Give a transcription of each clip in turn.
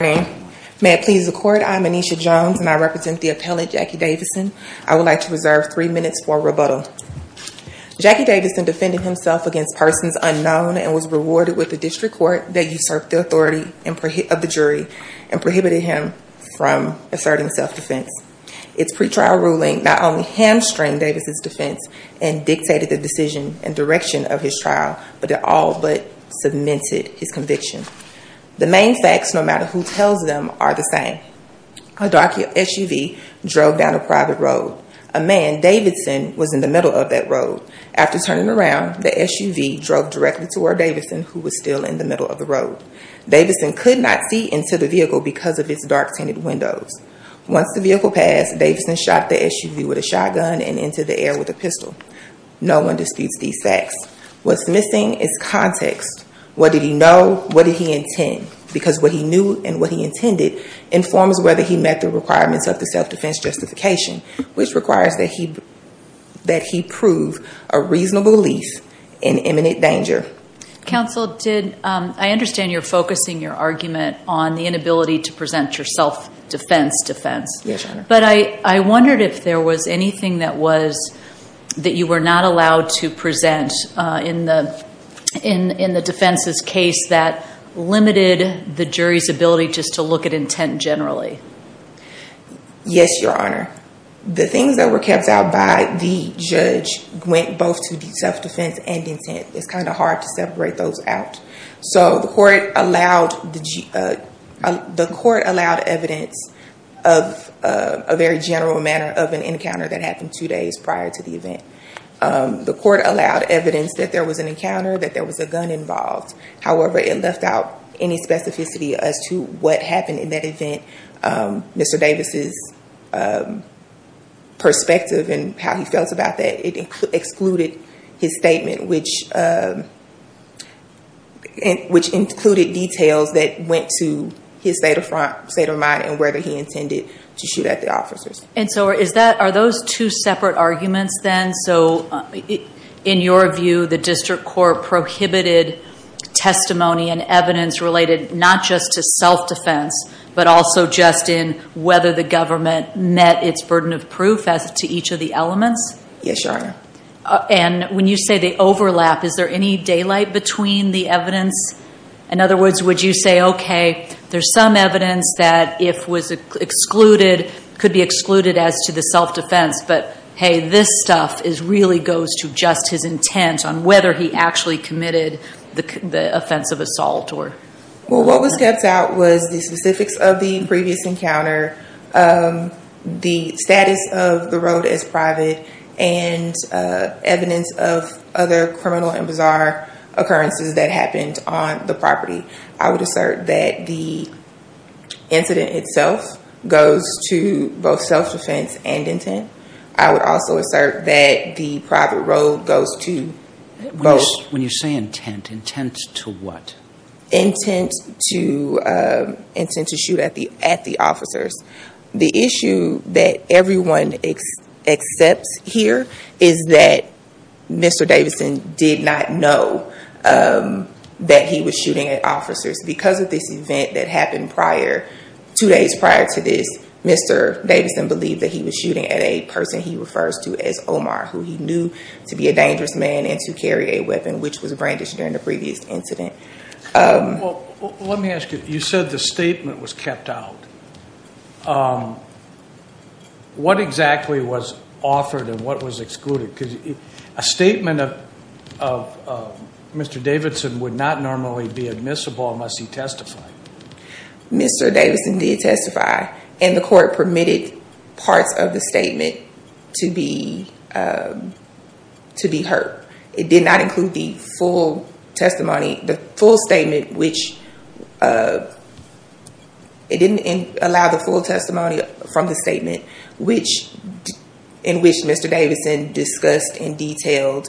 May it please the Court, I am Aneesha Jones and I represent the appellate Jackie Davidson. I would like to reserve three minutes for rebuttal. Jackie Davidson defended himself against persons unknown and was rewarded with a district court that usurped the authority of the jury and prohibited him from asserting self-defense. Its pre-trial ruling not only hamstringed Davidson's defense and dictated the decision and direction of his trial, but it all but cemented his conviction. The main facts, no matter who tells them, are the same. A dark SUV drove down a private road. A man, Davidson, was in the middle of that road. After turning around, the SUV drove directly toward Davidson, who was still in the middle of the road. Davidson could not see into the vehicle because of its dark tinted windows. Once the vehicle passed, Davidson shot the SUV with a shotgun and into the air with a pistol. No one disputes these facts. What's missing is context. What did he know? What did he intend? Because what he knew and what he intended informs whether he met the requirements of the self-defense justification, which requires that he prove a reasonable belief in imminent danger. Counsel, I understand you're focusing your argument on the inability to present your self-defense defense. Yes, Your Honor. But I wondered if there was anything that you were not allowed to present in the defense's case that limited the jury's ability just to look at intent generally. Yes, Your Honor. The things that were kept out by the judge went both to the self-defense and intent. It's kind of hard to separate those out. So the court allowed evidence of a very general manner of an encounter that happened two days prior to the event. The court allowed evidence that there was an encounter, that there was a gun involved. However, it left out any specificity as to what happened in that event. Mr. Davis's perspective and how he felt about that, it excluded his statement, which included details that went to his state of mind and whether he intended to shoot at the officers. And so are those two separate arguments then? So in your view, the district court prohibited testimony and evidence related not just to self-defense, but also just in whether the government met its burden Yes, Your Honor. And when you say they overlap, is there any daylight between the evidence? In other words, would you say, okay, there's some evidence that if was excluded, could be excluded as to the self-defense. But hey, this stuff really goes to just his intent on whether he actually committed the offense of assault. Well, what was kept out was the specifics of the previous encounter, the status of the road as private, and evidence of other criminal and bizarre occurrences that happened on the property. I would assert that the incident itself goes to both self-defense and intent. I would also assert that the private road goes to both. When you say intent, intent to what? Intent to shoot at the officers. The issue that everyone accepts here is that Mr. Davidson did not know that he was shooting at officers. Because of this event that happened two days prior to this, Mr. Davidson believed that he was shooting at a person he refers to as Omar, who he knew to be a dangerous man and to carry a weapon, which was a brandish during the previous incident. Well, let me ask you, you said the statement was kept out. What exactly was offered and what was excluded? Because a statement of Mr. Davidson would not normally be admissible unless he testified. Mr. Davidson did testify, and the court permitted parts of the statement to be heard. It did not include the full testimony, the full statement, which it didn't allow the full testimony from the statement, in which Mr. Davidson discussed and detailed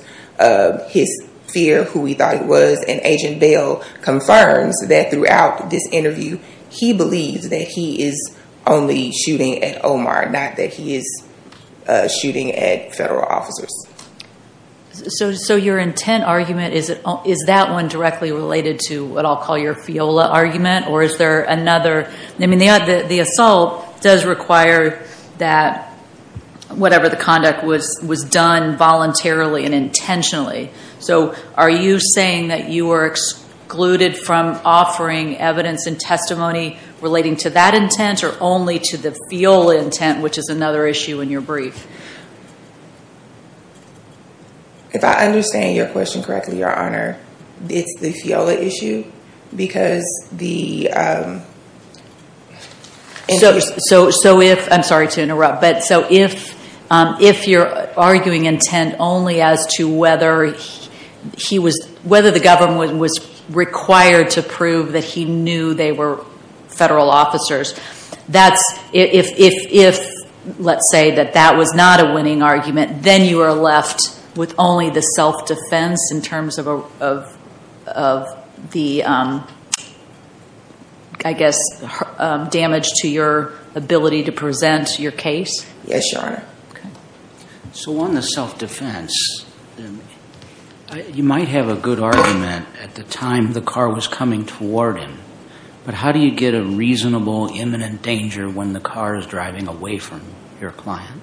his fear, who he thought he was. And Agent Bell confirms that throughout this interview, he believes that he is only shooting at Omar, not that he is shooting at federal officers. So your intent argument, is that one directly related to what I'll call your FIOLA argument? Or is there another, I mean, the assault does require that whatever the conduct was done voluntarily and intentionally. So are you saying that you are excluded from offering evidence and testimony relating to that intent or only to the FIOLA intent, which is another issue in your brief? If I understand your question correctly, Your Honor, it's the FIOLA issue, because the- So if, I'm sorry to interrupt, but so if you're arguing intent only as to whether he was, whether the government was required to prove that he knew they were federal officers, that's, if let's say that that was not a winning argument, then you are left with only the self-defense in terms of the, I guess, damage to your ability to present your case? Yes, Your Honor. So on the self-defense, you might have a good argument at the time the car was coming toward him, but how do you get a reasonable imminent danger when the car is driving away from your client?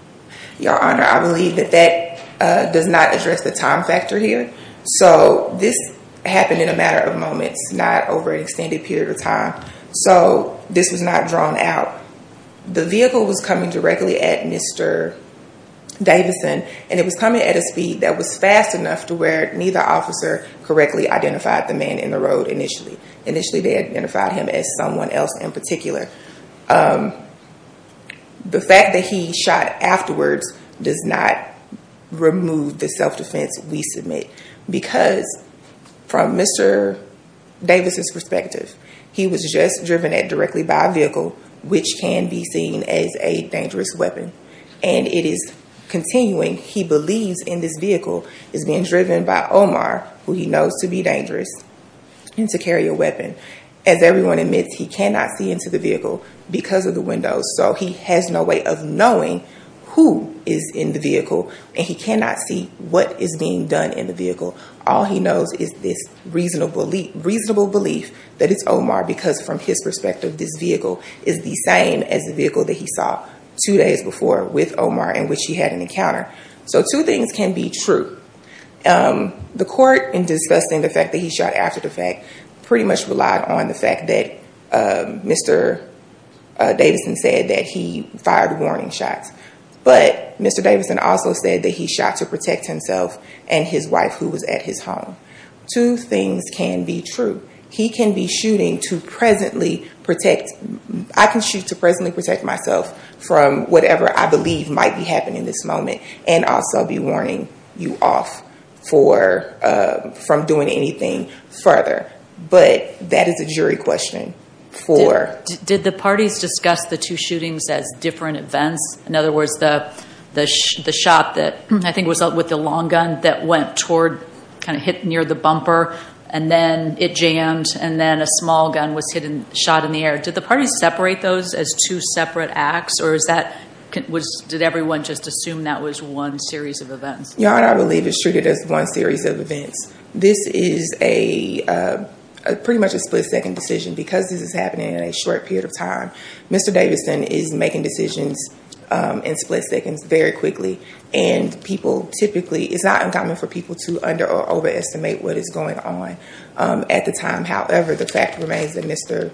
Your Honor, I believe that that does not address the time factor here. So this happened in a matter of moments, not over an extended period of time. So this was not drawn out. The vehicle was coming directly at Mr. Davidson, and it was coming at a speed that was fast enough to where neither officer correctly identified the man in the road initially. Initially, they identified him as someone else in particular. The fact that he shot afterwards does not remove the self-defense we submit, because from Mr. Davidson's perspective, he was just driven at directly by a vehicle, which can be seen as a dangerous weapon, and it is continuing, he believes, in this vehicle is being driven by Omar, who he knows to be dangerous, and to carry a weapon. As everyone admits, he cannot see into the vehicle because of the windows, so he has no way of knowing who is in the vehicle, and he cannot see what is being done in the vehicle. All he knows is this reasonable belief that it's Omar, because from his perspective, this vehicle is the same as the vehicle that he saw two days before with Omar, in which he had an encounter. So two things can be true. The court, in discussing the fact that he shot after the fact, pretty much relied on the fact that Mr. Davidson said that he fired warning shots, but Mr. Davidson also said that he shot to protect himself and his wife, who was at his home. Two things can be true. He can be shooting to presently protect, I can shoot to presently protect myself from whatever I believe might be happening in this moment, and also be warning you off from doing anything further. But that is a jury question. Did the parties discuss the two shootings as different events? In other words, the shot that I think was with the long gun that went toward, kind of hit near the bumper, and then it jammed, and then a small gun was shot in the air. Did the parties separate those as two separate acts, or did everyone just assume that was one series of events? Your Honor, I believe it's treated as one series of events. This is pretty much a split-second decision. Because this is happening in a short period of time, Mr. Davidson is making decisions in split seconds very quickly, and it's not uncommon for people to underestimate what is going on at the time. However, the fact remains that Mr.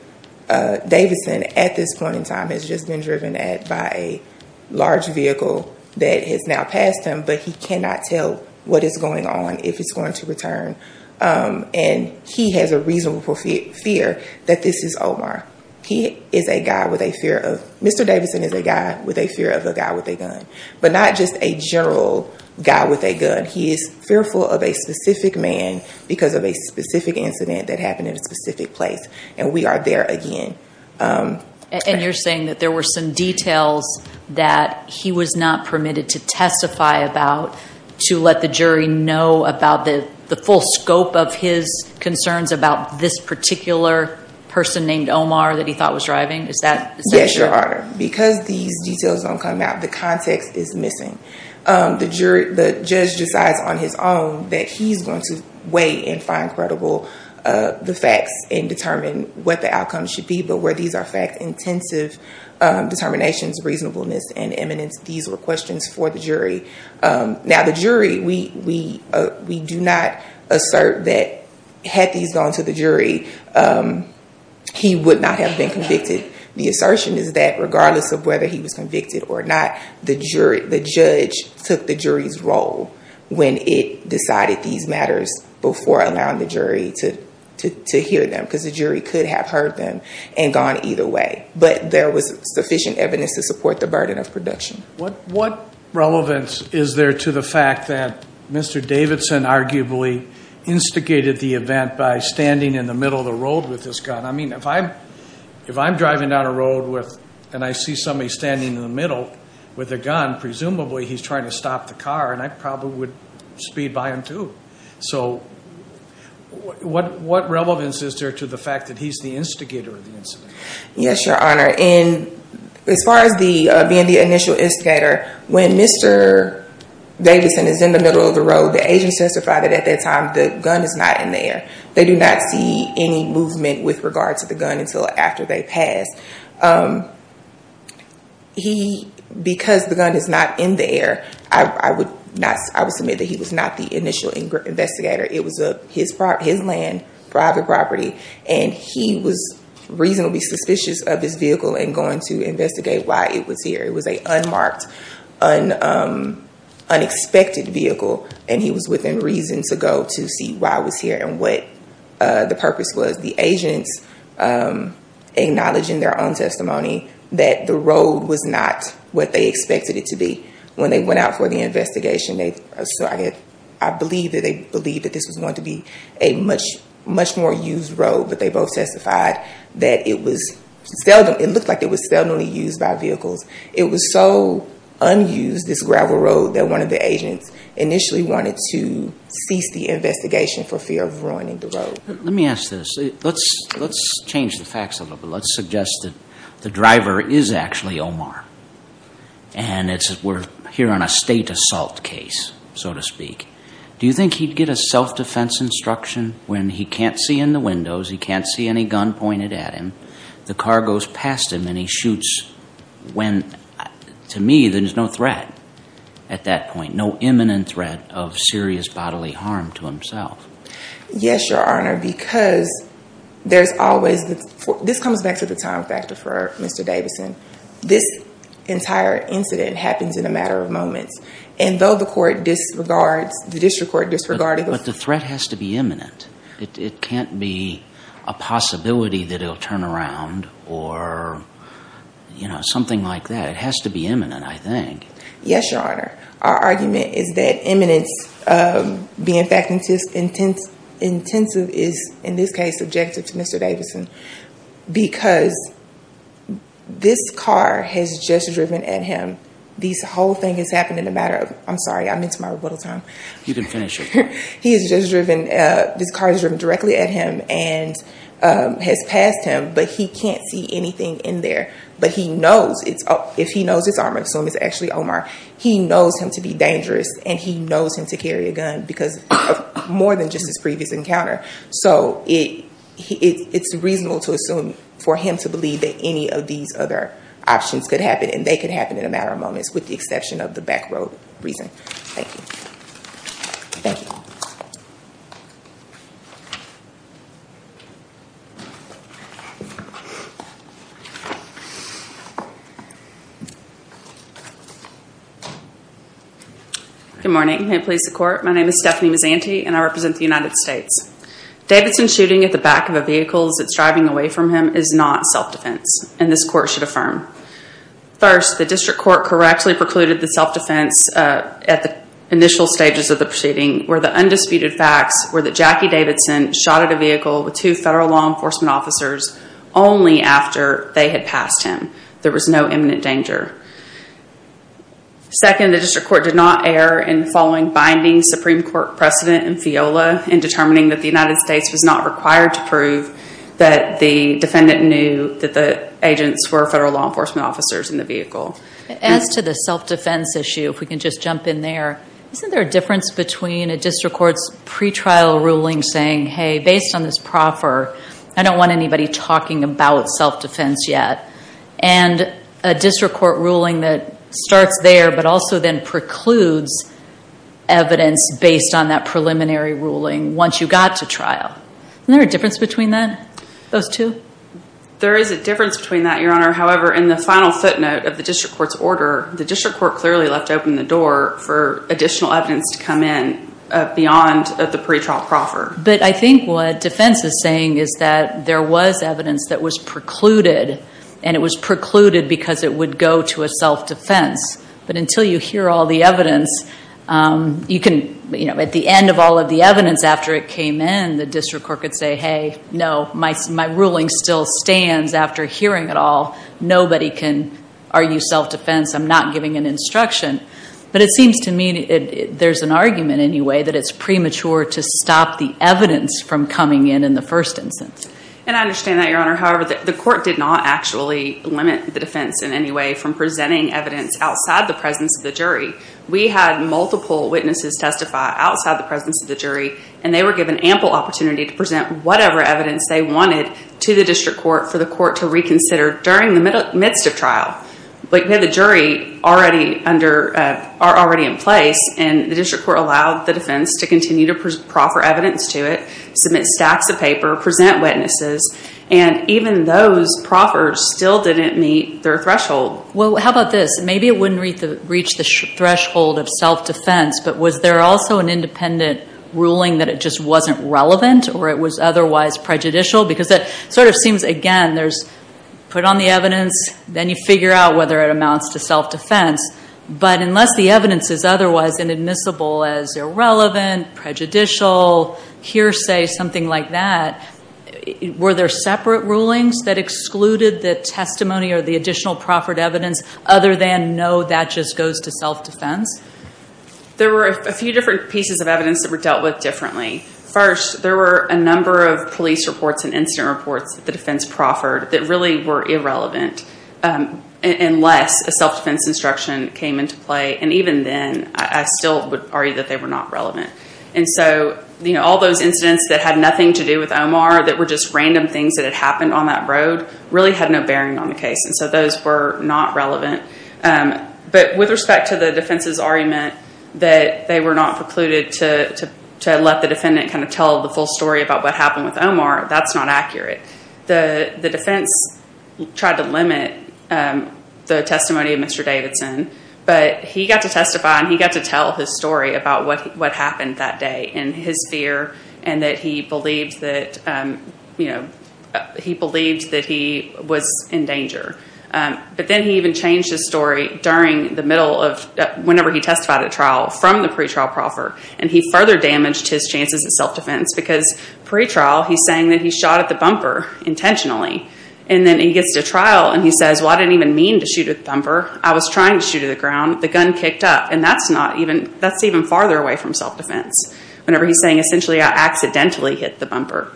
Davidson, at this point in time, has just been driven by a large vehicle that has now passed him, but he cannot tell what is going on, if it's going to return. And he has a reasonable fear that this is Omar. Mr. Davidson is a guy with a fear of a guy with a gun. But not just a general guy with a gun. He is fearful of a specific man because of a specific incident that happened in a specific place. And we are there again. And you're saying that there were some details that he was not permitted to testify about to let the jury know about the full scope of his concerns about this particular person named Omar that he thought was driving? Yes, Your Honor. Because these details don't come out, the context is missing. The judge decides on his own that he's going to weigh and find credible the facts and determine what the outcome should be, but where these are fact-intensive determinations, reasonableness, and eminence, these were questions for the jury. Now, the jury, we do not assert that had these gone to the jury, he would not have been convicted. The assertion is that regardless of whether he was convicted or not, the judge took the jury's role when it decided these matters before allowing the jury to hear them because the jury could have heard them and gone either way. But there was sufficient evidence to support the burden of production. What relevance is there to the fact that Mr. Davidson arguably instigated the event by standing in the middle of the road with his gun? I mean, if I'm driving down a road and I see somebody standing in the middle with a gun, presumably he's trying to stop the car and I probably would speed by him too. So what relevance is there to the fact that he's the instigator of the incident? Yes, Your Honor. As far as being the initial instigator, when Mr. Davidson is in the middle of the road, the agents testify that at that time the gun is not in there. They do not see any movement with regard to the gun until after they pass. Because the gun is not in there, I would submit that he was not the initial investigator. It was his land, private property, and he was reasonably suspicious of his vehicle and going to investigate why it was here. It was an unmarked, unexpected vehicle, and he was within reason to go to see why it was here and what the purpose was. The agents acknowledged in their own testimony that the road was not what they expected it to be. When they went out for the investigation, I believe that they believed that this was going to be a much more used road, but they both testified that it looked like it was seldomly used by vehicles. It was so unused, this gravel road, that one of the agents initially wanted to cease the investigation for fear of ruining the road. Let me ask this. Let's change the facts a little bit. Let's suggest that the driver is actually Omar, and we're here on a state assault case, so to speak. Do you think he'd get a self-defense instruction when he can't see in the windows, he can't see any gun pointed at him, the car goes past him, and he shoots when, to me, there's no threat at that point, no imminent threat of serious bodily harm to himself? Yes, Your Honor, because there's always the—this comes back to the time factor for Mr. Davidson. This entire incident happens in a matter of moments, and though the court disregards—the district court disregarded— But the threat has to be imminent. It can't be a possibility that it'll turn around or, you know, something like that. It has to be imminent, I think. Yes, Your Honor. Our argument is that imminence being fact intensive is, in this case, subjective to Mr. Davidson, because this car has just driven at him. This whole thing has happened in a matter of—I'm sorry, I'm into my rebuttal time. You can finish it. He has just driven—this car has driven directly at him and has passed him, but he can't see anything in there. But he knows it's—if he knows it's armored, assume it's actually Omar, he knows him to be dangerous, and he knows him to carry a gun because of more than just his previous encounter. So it's reasonable to assume for him to believe that any of these other options could happen, and they could happen in a matter of moments with the exception of the back road reason. Thank you. Thank you. Good morning. May it please the Court. My name is Stephanie Mazzanti, and I represent the United States. Davidson shooting at the back of a vehicle as it's driving away from him is not self-defense, and this Court should affirm. First, the District Court correctly precluded the self-defense at the initial stages of the proceeding where the undisputed facts were that Jackie Davidson shot at a vehicle with two federal law enforcement officers only after they had passed him. There was no imminent danger. Second, the District Court did not err in following binding Supreme Court precedent in FEOLA in determining that the United States was not required to prove that the defendant knew that the agents were federal law enforcement officers in the vehicle. As to the self-defense issue, if we can just jump in there, isn't there a difference between a District Court's pretrial ruling saying, hey, based on this proffer, I don't want anybody talking about self-defense yet, and a District Court ruling that starts there but also then precludes evidence based on that preliminary ruling once you got to trial? Isn't there a difference between those two? There is a difference between that, Your Honor. However, in the final footnote of the District Court's order, the District Court clearly left open the door for additional evidence to come in beyond the pretrial proffer. But I think what defense is saying is that there was evidence that was precluded, and it was precluded because it would go to a self-defense. But until you hear all the evidence, at the end of all of the evidence after it came in, the District Court could say, hey, no, my ruling still stands after hearing it all. Nobody can argue self-defense. I'm not giving an instruction. But it seems to me there's an argument anyway that it's premature to stop the evidence from coming in in the first instance. And I understand that, Your Honor. However, the court did not actually limit the defense in any way from presenting evidence outside the presence of the jury. We had multiple witnesses testify outside the presence of the jury, and they were given ample opportunity to present whatever evidence they wanted to the District Court for the court to reconsider during the midst of trial. But we had the jury already in place, and the District Court allowed the defense to continue to proffer evidence to it, submit stacks of paper, present witnesses, and even those proffers still didn't meet their threshold. Well, how about this? Maybe it wouldn't reach the threshold of self-defense, but was there also an independent ruling that it just wasn't relevant or it was otherwise prejudicial? Because it sort of seems, again, there's put on the evidence, then you figure out whether it amounts to self-defense. But unless the evidence is otherwise inadmissible as irrelevant, prejudicial, hearsay, something like that, were there separate rulings that excluded the testimony or the additional proffered evidence other than, no, that just goes to self-defense? There were a few different pieces of evidence that were dealt with differently. First, there were a number of police reports and incident reports that the defense proffered that really were irrelevant unless a self-defense instruction came into play, and even then, I still would argue that they were not relevant. And so all those incidents that had nothing to do with Omar, that were just random things that had happened on that road, really had no bearing on the case, and so those were not relevant. But with respect to the defense's argument that they were not precluded to let the defendant kind of tell the full story about what happened with Omar, that's not accurate. The defense tried to limit the testimony of Mr. Davidson, but he got to testify and he got to tell his story about what happened that day and his fear and that he believed that he was in danger. But then he even changed his story during the middle of, whenever he testified at trial, from the pretrial proffer, and he further damaged his chances at self-defense because pretrial, he's saying that he shot at the bumper intentionally, and then he gets to trial and he says, well, I didn't even mean to shoot at the bumper. I was trying to shoot at the ground. The gun kicked up, and that's even farther away from self-defense whenever he's saying, essentially, I accidentally hit the bumper.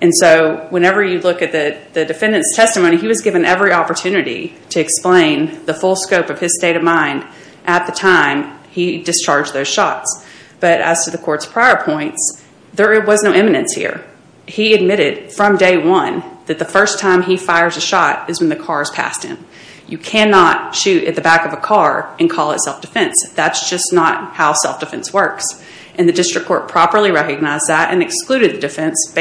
And so whenever you look at the defendant's testimony, he was given every opportunity to explain the full scope of his state of mind at the time he discharged those shots. But as to the court's prior points, there was no eminence here. He admitted from day one that the first time he fires a shot is when the car is past him. You cannot shoot at the back of a car and call it self-defense. That's just not how self-defense works. And the district court properly recognized that and excluded the defense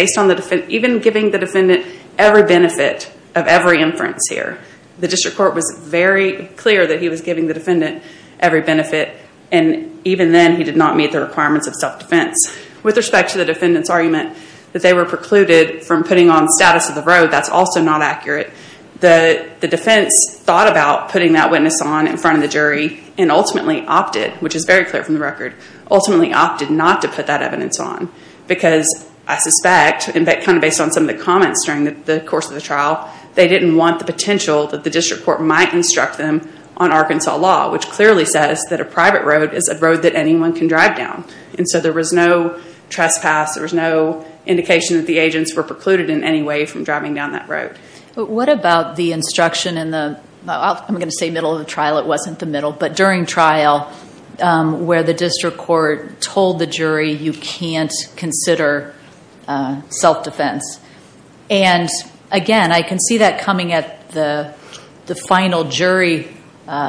even giving the defendant every benefit of every inference here. The district court was very clear that he was giving the defendant every benefit, and even then he did not meet the requirements of self-defense. With respect to the defendant's argument that they were precluded from putting on status of the road, that's also not accurate. The defense thought about putting that witness on in front of the jury and ultimately opted, which is very clear from the record, ultimately opted not to put that evidence on because I suspect, kind of based on some of the comments during the course of the trial, they didn't want the potential that the district court might instruct them on Arkansas law, which clearly says that a private road is a road that anyone can drive down. And so there was no trespass, there was no indication that the agents were precluded in any way from driving down that road. What about the instruction in the, I'm going to say middle of the trial, it wasn't the middle, but during trial where the district court told the jury you can't consider self-defense. And again, I can see that coming at the final jury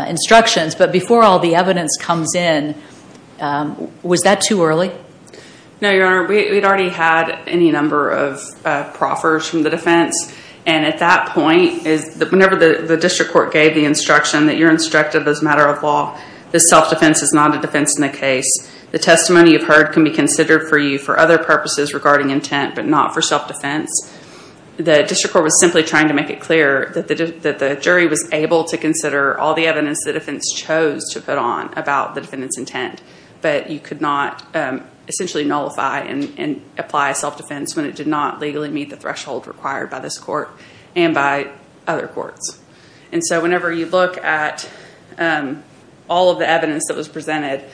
instructions, but before all the evidence comes in, was that too early? No, Your Honor, we'd already had any number of proffers from the defense, and at that point, whenever the district court gave the instruction that you're instructed as a matter of law, this self-defense is not a defense in the case. The testimony you've heard can be considered for you for other purposes regarding intent, but not for self-defense. The district court was simply trying to make it clear that the jury was able to consider all the evidence the defense chose to put on about the defendant's intent, but you could not essentially nullify and apply self-defense when it did not legally meet the threshold required by this court and by other courts. And so whenever you look at all of the evidence that was presented,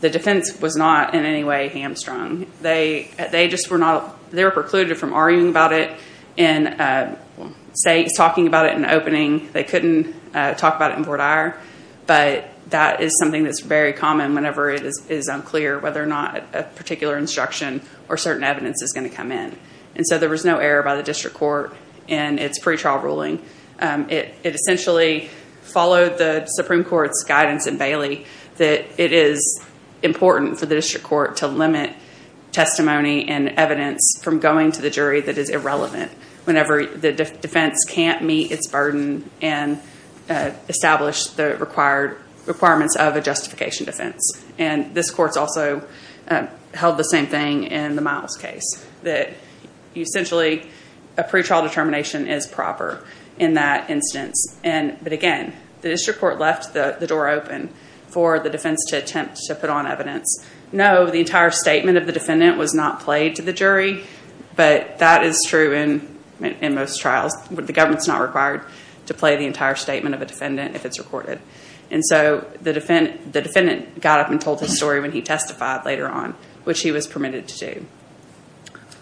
the defense was not in any way hamstrung. They were precluded from arguing about it and talking about it in the opening. They couldn't talk about it in court ire, but that is something that's very common whenever it is unclear whether or not a particular instruction or certain evidence is going to come in. And so there was no error by the district court in its pretrial ruling. It essentially followed the Supreme Court's guidance in Bailey that it is important for the district court to limit testimony and evidence from going to the jury that is irrelevant whenever the defense can't meet its burden and establish the requirements of a justification defense. And this court's also held the same thing in the Miles case, that essentially a pretrial determination is proper in that instance. But again, the district court left the door open for the defense to attempt to put on evidence. No, the entire statement of the defendant was not played to the jury, but that is true in most trials. The government's not required to play the entire statement of a defendant if it's recorded. And so the defendant got up and told his story when he testified later on, which he was permitted to do.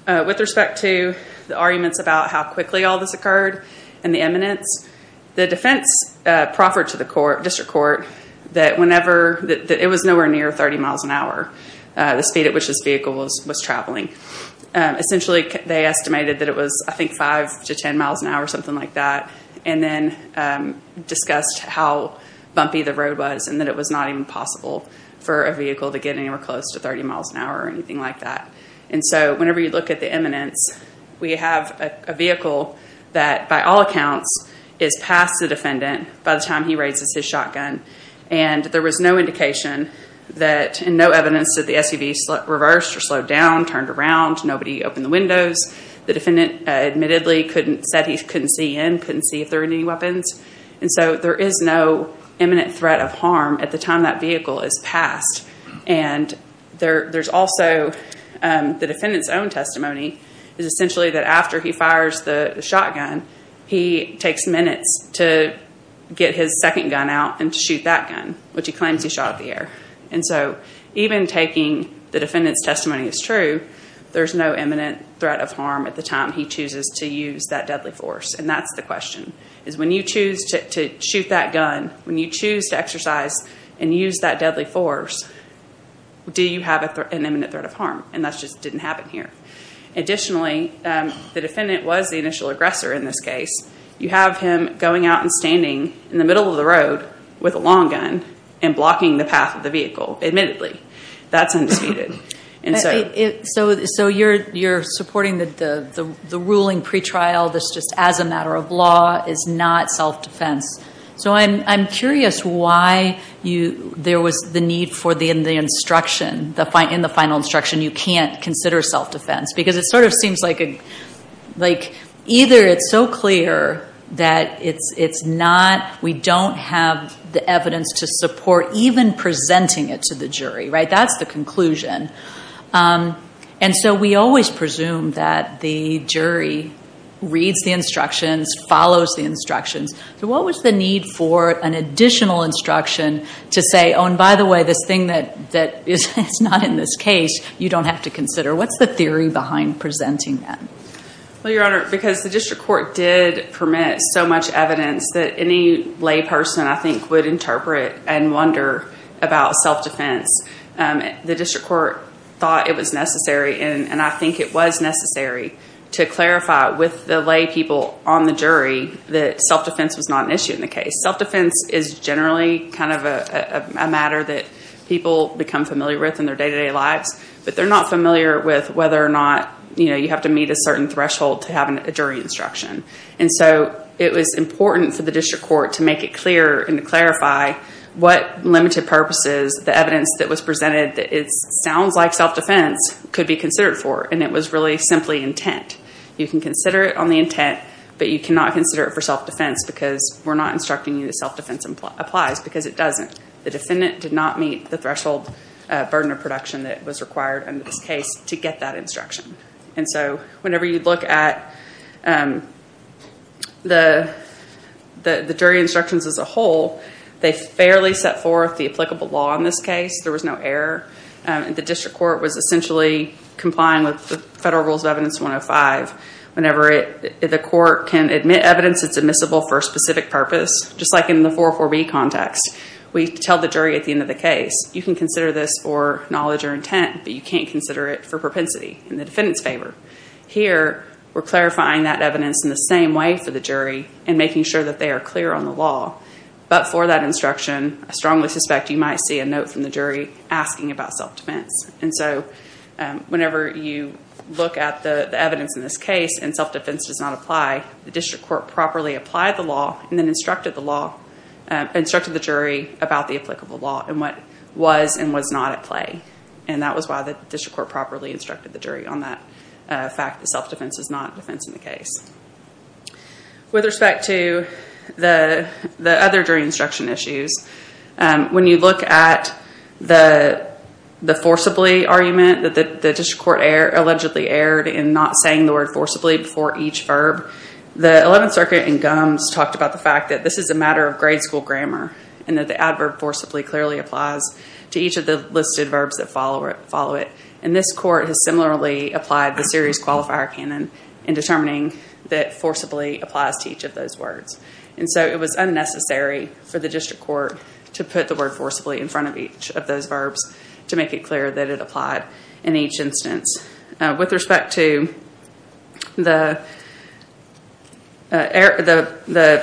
With respect to the arguments about how quickly all this occurred and the eminence, the defense proffered to the district court that it was nowhere near 30 miles an hour, the speed at which this vehicle was traveling. Essentially, they estimated that it was, I think, 5 to 10 miles an hour, something like that, and then discussed how bumpy the road was and that it was not even possible for a vehicle to get anywhere close to 30 miles an hour or anything like that. And so whenever you look at the eminence, we have a vehicle that, by all accounts, is past the defendant by the time he raises his shotgun. And there was no indication and no evidence that the SUV reversed or slowed down, turned around, nobody opened the windows. The defendant admittedly said he couldn't see in, couldn't see if there were any weapons. And so there is no eminent threat of harm at the time that vehicle is past. And there's also the defendant's own testimony is essentially that after he fires the shotgun, he takes minutes to get his second gun out and to shoot that gun, which he claims he shot at the air. And so even taking the defendant's testimony as true, there's no eminent threat of harm at the time he chooses to use that deadly force. And that's the question, is when you choose to shoot that gun, when you choose to exercise and use that deadly force, do you have an eminent threat of harm? And that just didn't happen here. Additionally, the defendant was the initial aggressor in this case. You have him going out and standing in the middle of the road with a long gun and blocking the path of the vehicle, admittedly. That's undisputed. So you're supporting the ruling pretrial, this just as a matter of law is not self-defense. So I'm curious why there was the need for the instruction, in the final instruction you can't consider self-defense, because it sort of seems like either it's so clear that it's not, we don't have the evidence to support even presenting it to the jury, right? That's the conclusion. And so we always presume that the jury reads the instructions, follows the instructions. So what was the need for an additional instruction to say, oh, and by the way, this thing that is not in this case, you don't have to consider? What's the theory behind presenting that? Well, Your Honor, because the district court did permit so much evidence that any lay person, I think, would interpret and wonder about self-defense. The district court thought it was necessary, that self-defense was not an issue in the case. Self-defense is generally kind of a matter that people become familiar with in their day-to-day lives, but they're not familiar with whether or not you have to meet a certain threshold to have a jury instruction. And so it was important for the district court to make it clear and to clarify what limited purposes the evidence that was presented, that it sounds like self-defense, could be considered for, and it was really simply intent. You can consider it on the intent, but you cannot consider it for self-defense because we're not instructing you that self-defense applies, because it doesn't. The defendant did not meet the threshold burden of production that was required under this case to get that instruction. And so whenever you look at the jury instructions as a whole, they fairly set forth the applicable law in this case. There was no error. The district court was essentially complying with the Federal Rules of Evidence 105. Whenever the court can admit evidence that's admissible for a specific purpose, just like in the 404B context, we tell the jury at the end of the case, you can consider this for knowledge or intent, but you can't consider it for propensity in the defendant's favor. Here, we're clarifying that evidence in the same way for the jury and making sure that they are clear on the law. But for that instruction, I strongly suspect you might see a note from the jury asking about self-defense. And so whenever you look at the evidence in this case and self-defense does not apply, the district court properly applied the law and then instructed the jury about the applicable law and what was and was not at play. And that was why the district court properly instructed the jury on that fact that self-defense is not a defense in the case. With respect to the other jury instruction issues, when you look at the forcibly argument that the district court allegedly erred in not saying the word forcibly before each verb, the 11th Circuit in Gumbs talked about the fact that this is a matter of grade school grammar and that the adverb forcibly clearly applies to each of the listed verbs that follow it. And this court has similarly applied the series qualifier canon in determining that forcibly applies to each of those words. And so it was unnecessary for the district court to put the word forcibly in front of each of those verbs to make it clear that it applied in each instance. With respect to the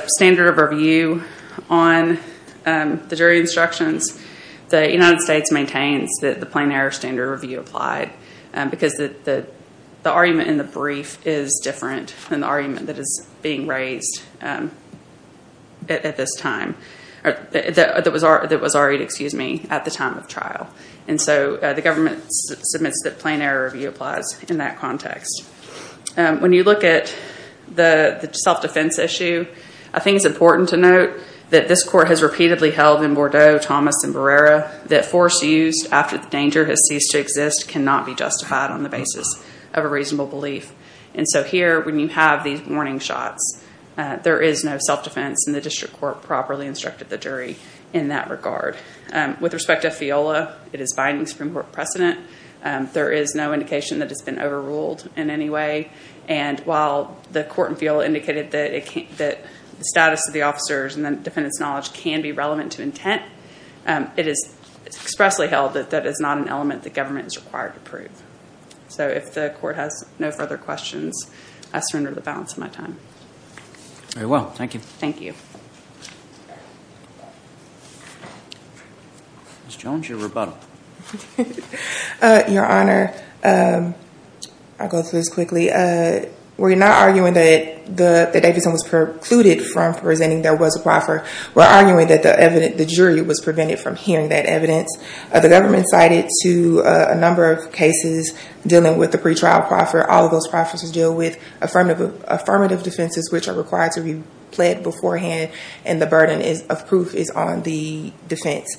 standard of review on the jury instructions, the United States maintains that the plain error standard review applied because the argument in the brief is different than the argument that was argued at the time of trial. And so the government submits that plain error review applies in that context. When you look at the self-defense issue, I think it's important to note that this court has repeatedly held in Bordeaux, Thomas, and Barrera that force used after the danger has ceased to exist cannot be justified on the basis of a reasonable belief. And so here, when you have these warning shots, there is no self-defense, and the district court properly instructed the jury in that regard. With respect to FIOLA, it is binding Supreme Court precedent. There is no indication that it's been overruled in any way. And while the court in FIOLA indicated that the status of the officers and the defendant's knowledge can be relevant to intent, it is expressly held that that is not an element the government is required to prove. So if the court has no further questions, I surrender the balance of my time. Very well. Thank you. Thank you. Ms. Jones, your rebuttal. Your Honor, I'll go through this quickly. We're not arguing that Davidson was precluded from presenting there was a proffer. We're arguing that the jury was prevented from hearing that evidence. The government cited to a number of cases dealing with the pretrial proffer. All of those proffers deal with affirmative defenses, which are required to be pled beforehand, and the burden of proof is on the defense,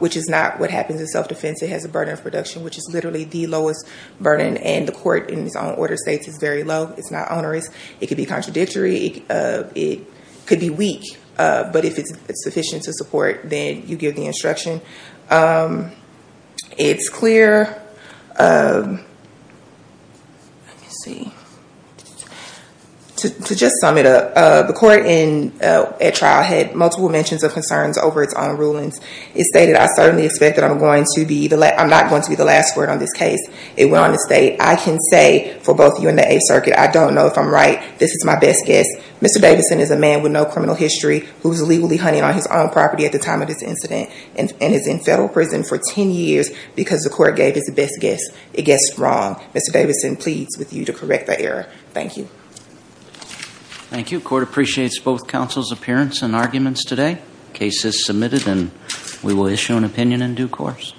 which is not what happens in self-defense. It has a burden of production, which is literally the lowest burden. And the court, in its own order, states it's very low. It's not onerous. It could be contradictory. It could be weak. But if it's sufficient to support, then you give the instruction. It's clear. To just sum it up, the court at trial had multiple mentions of concerns over its own rulings. It stated, I certainly expect that I'm not going to be the last word on this case. It went on to state, I can say for both you and the Eighth Circuit, I don't know if I'm right. This is my best guess. Mr. Davidson is a man with no criminal history who was illegally hunting on his own property at the time of this incident, and is in federal prison for 10 years because the court gave its best guess. It guessed wrong. Mr. Davidson pleads with you to correct the error. Thank you. Thank you. Court appreciates both counsel's appearance and arguments today. Case is submitted, and we will issue an opinion in due course.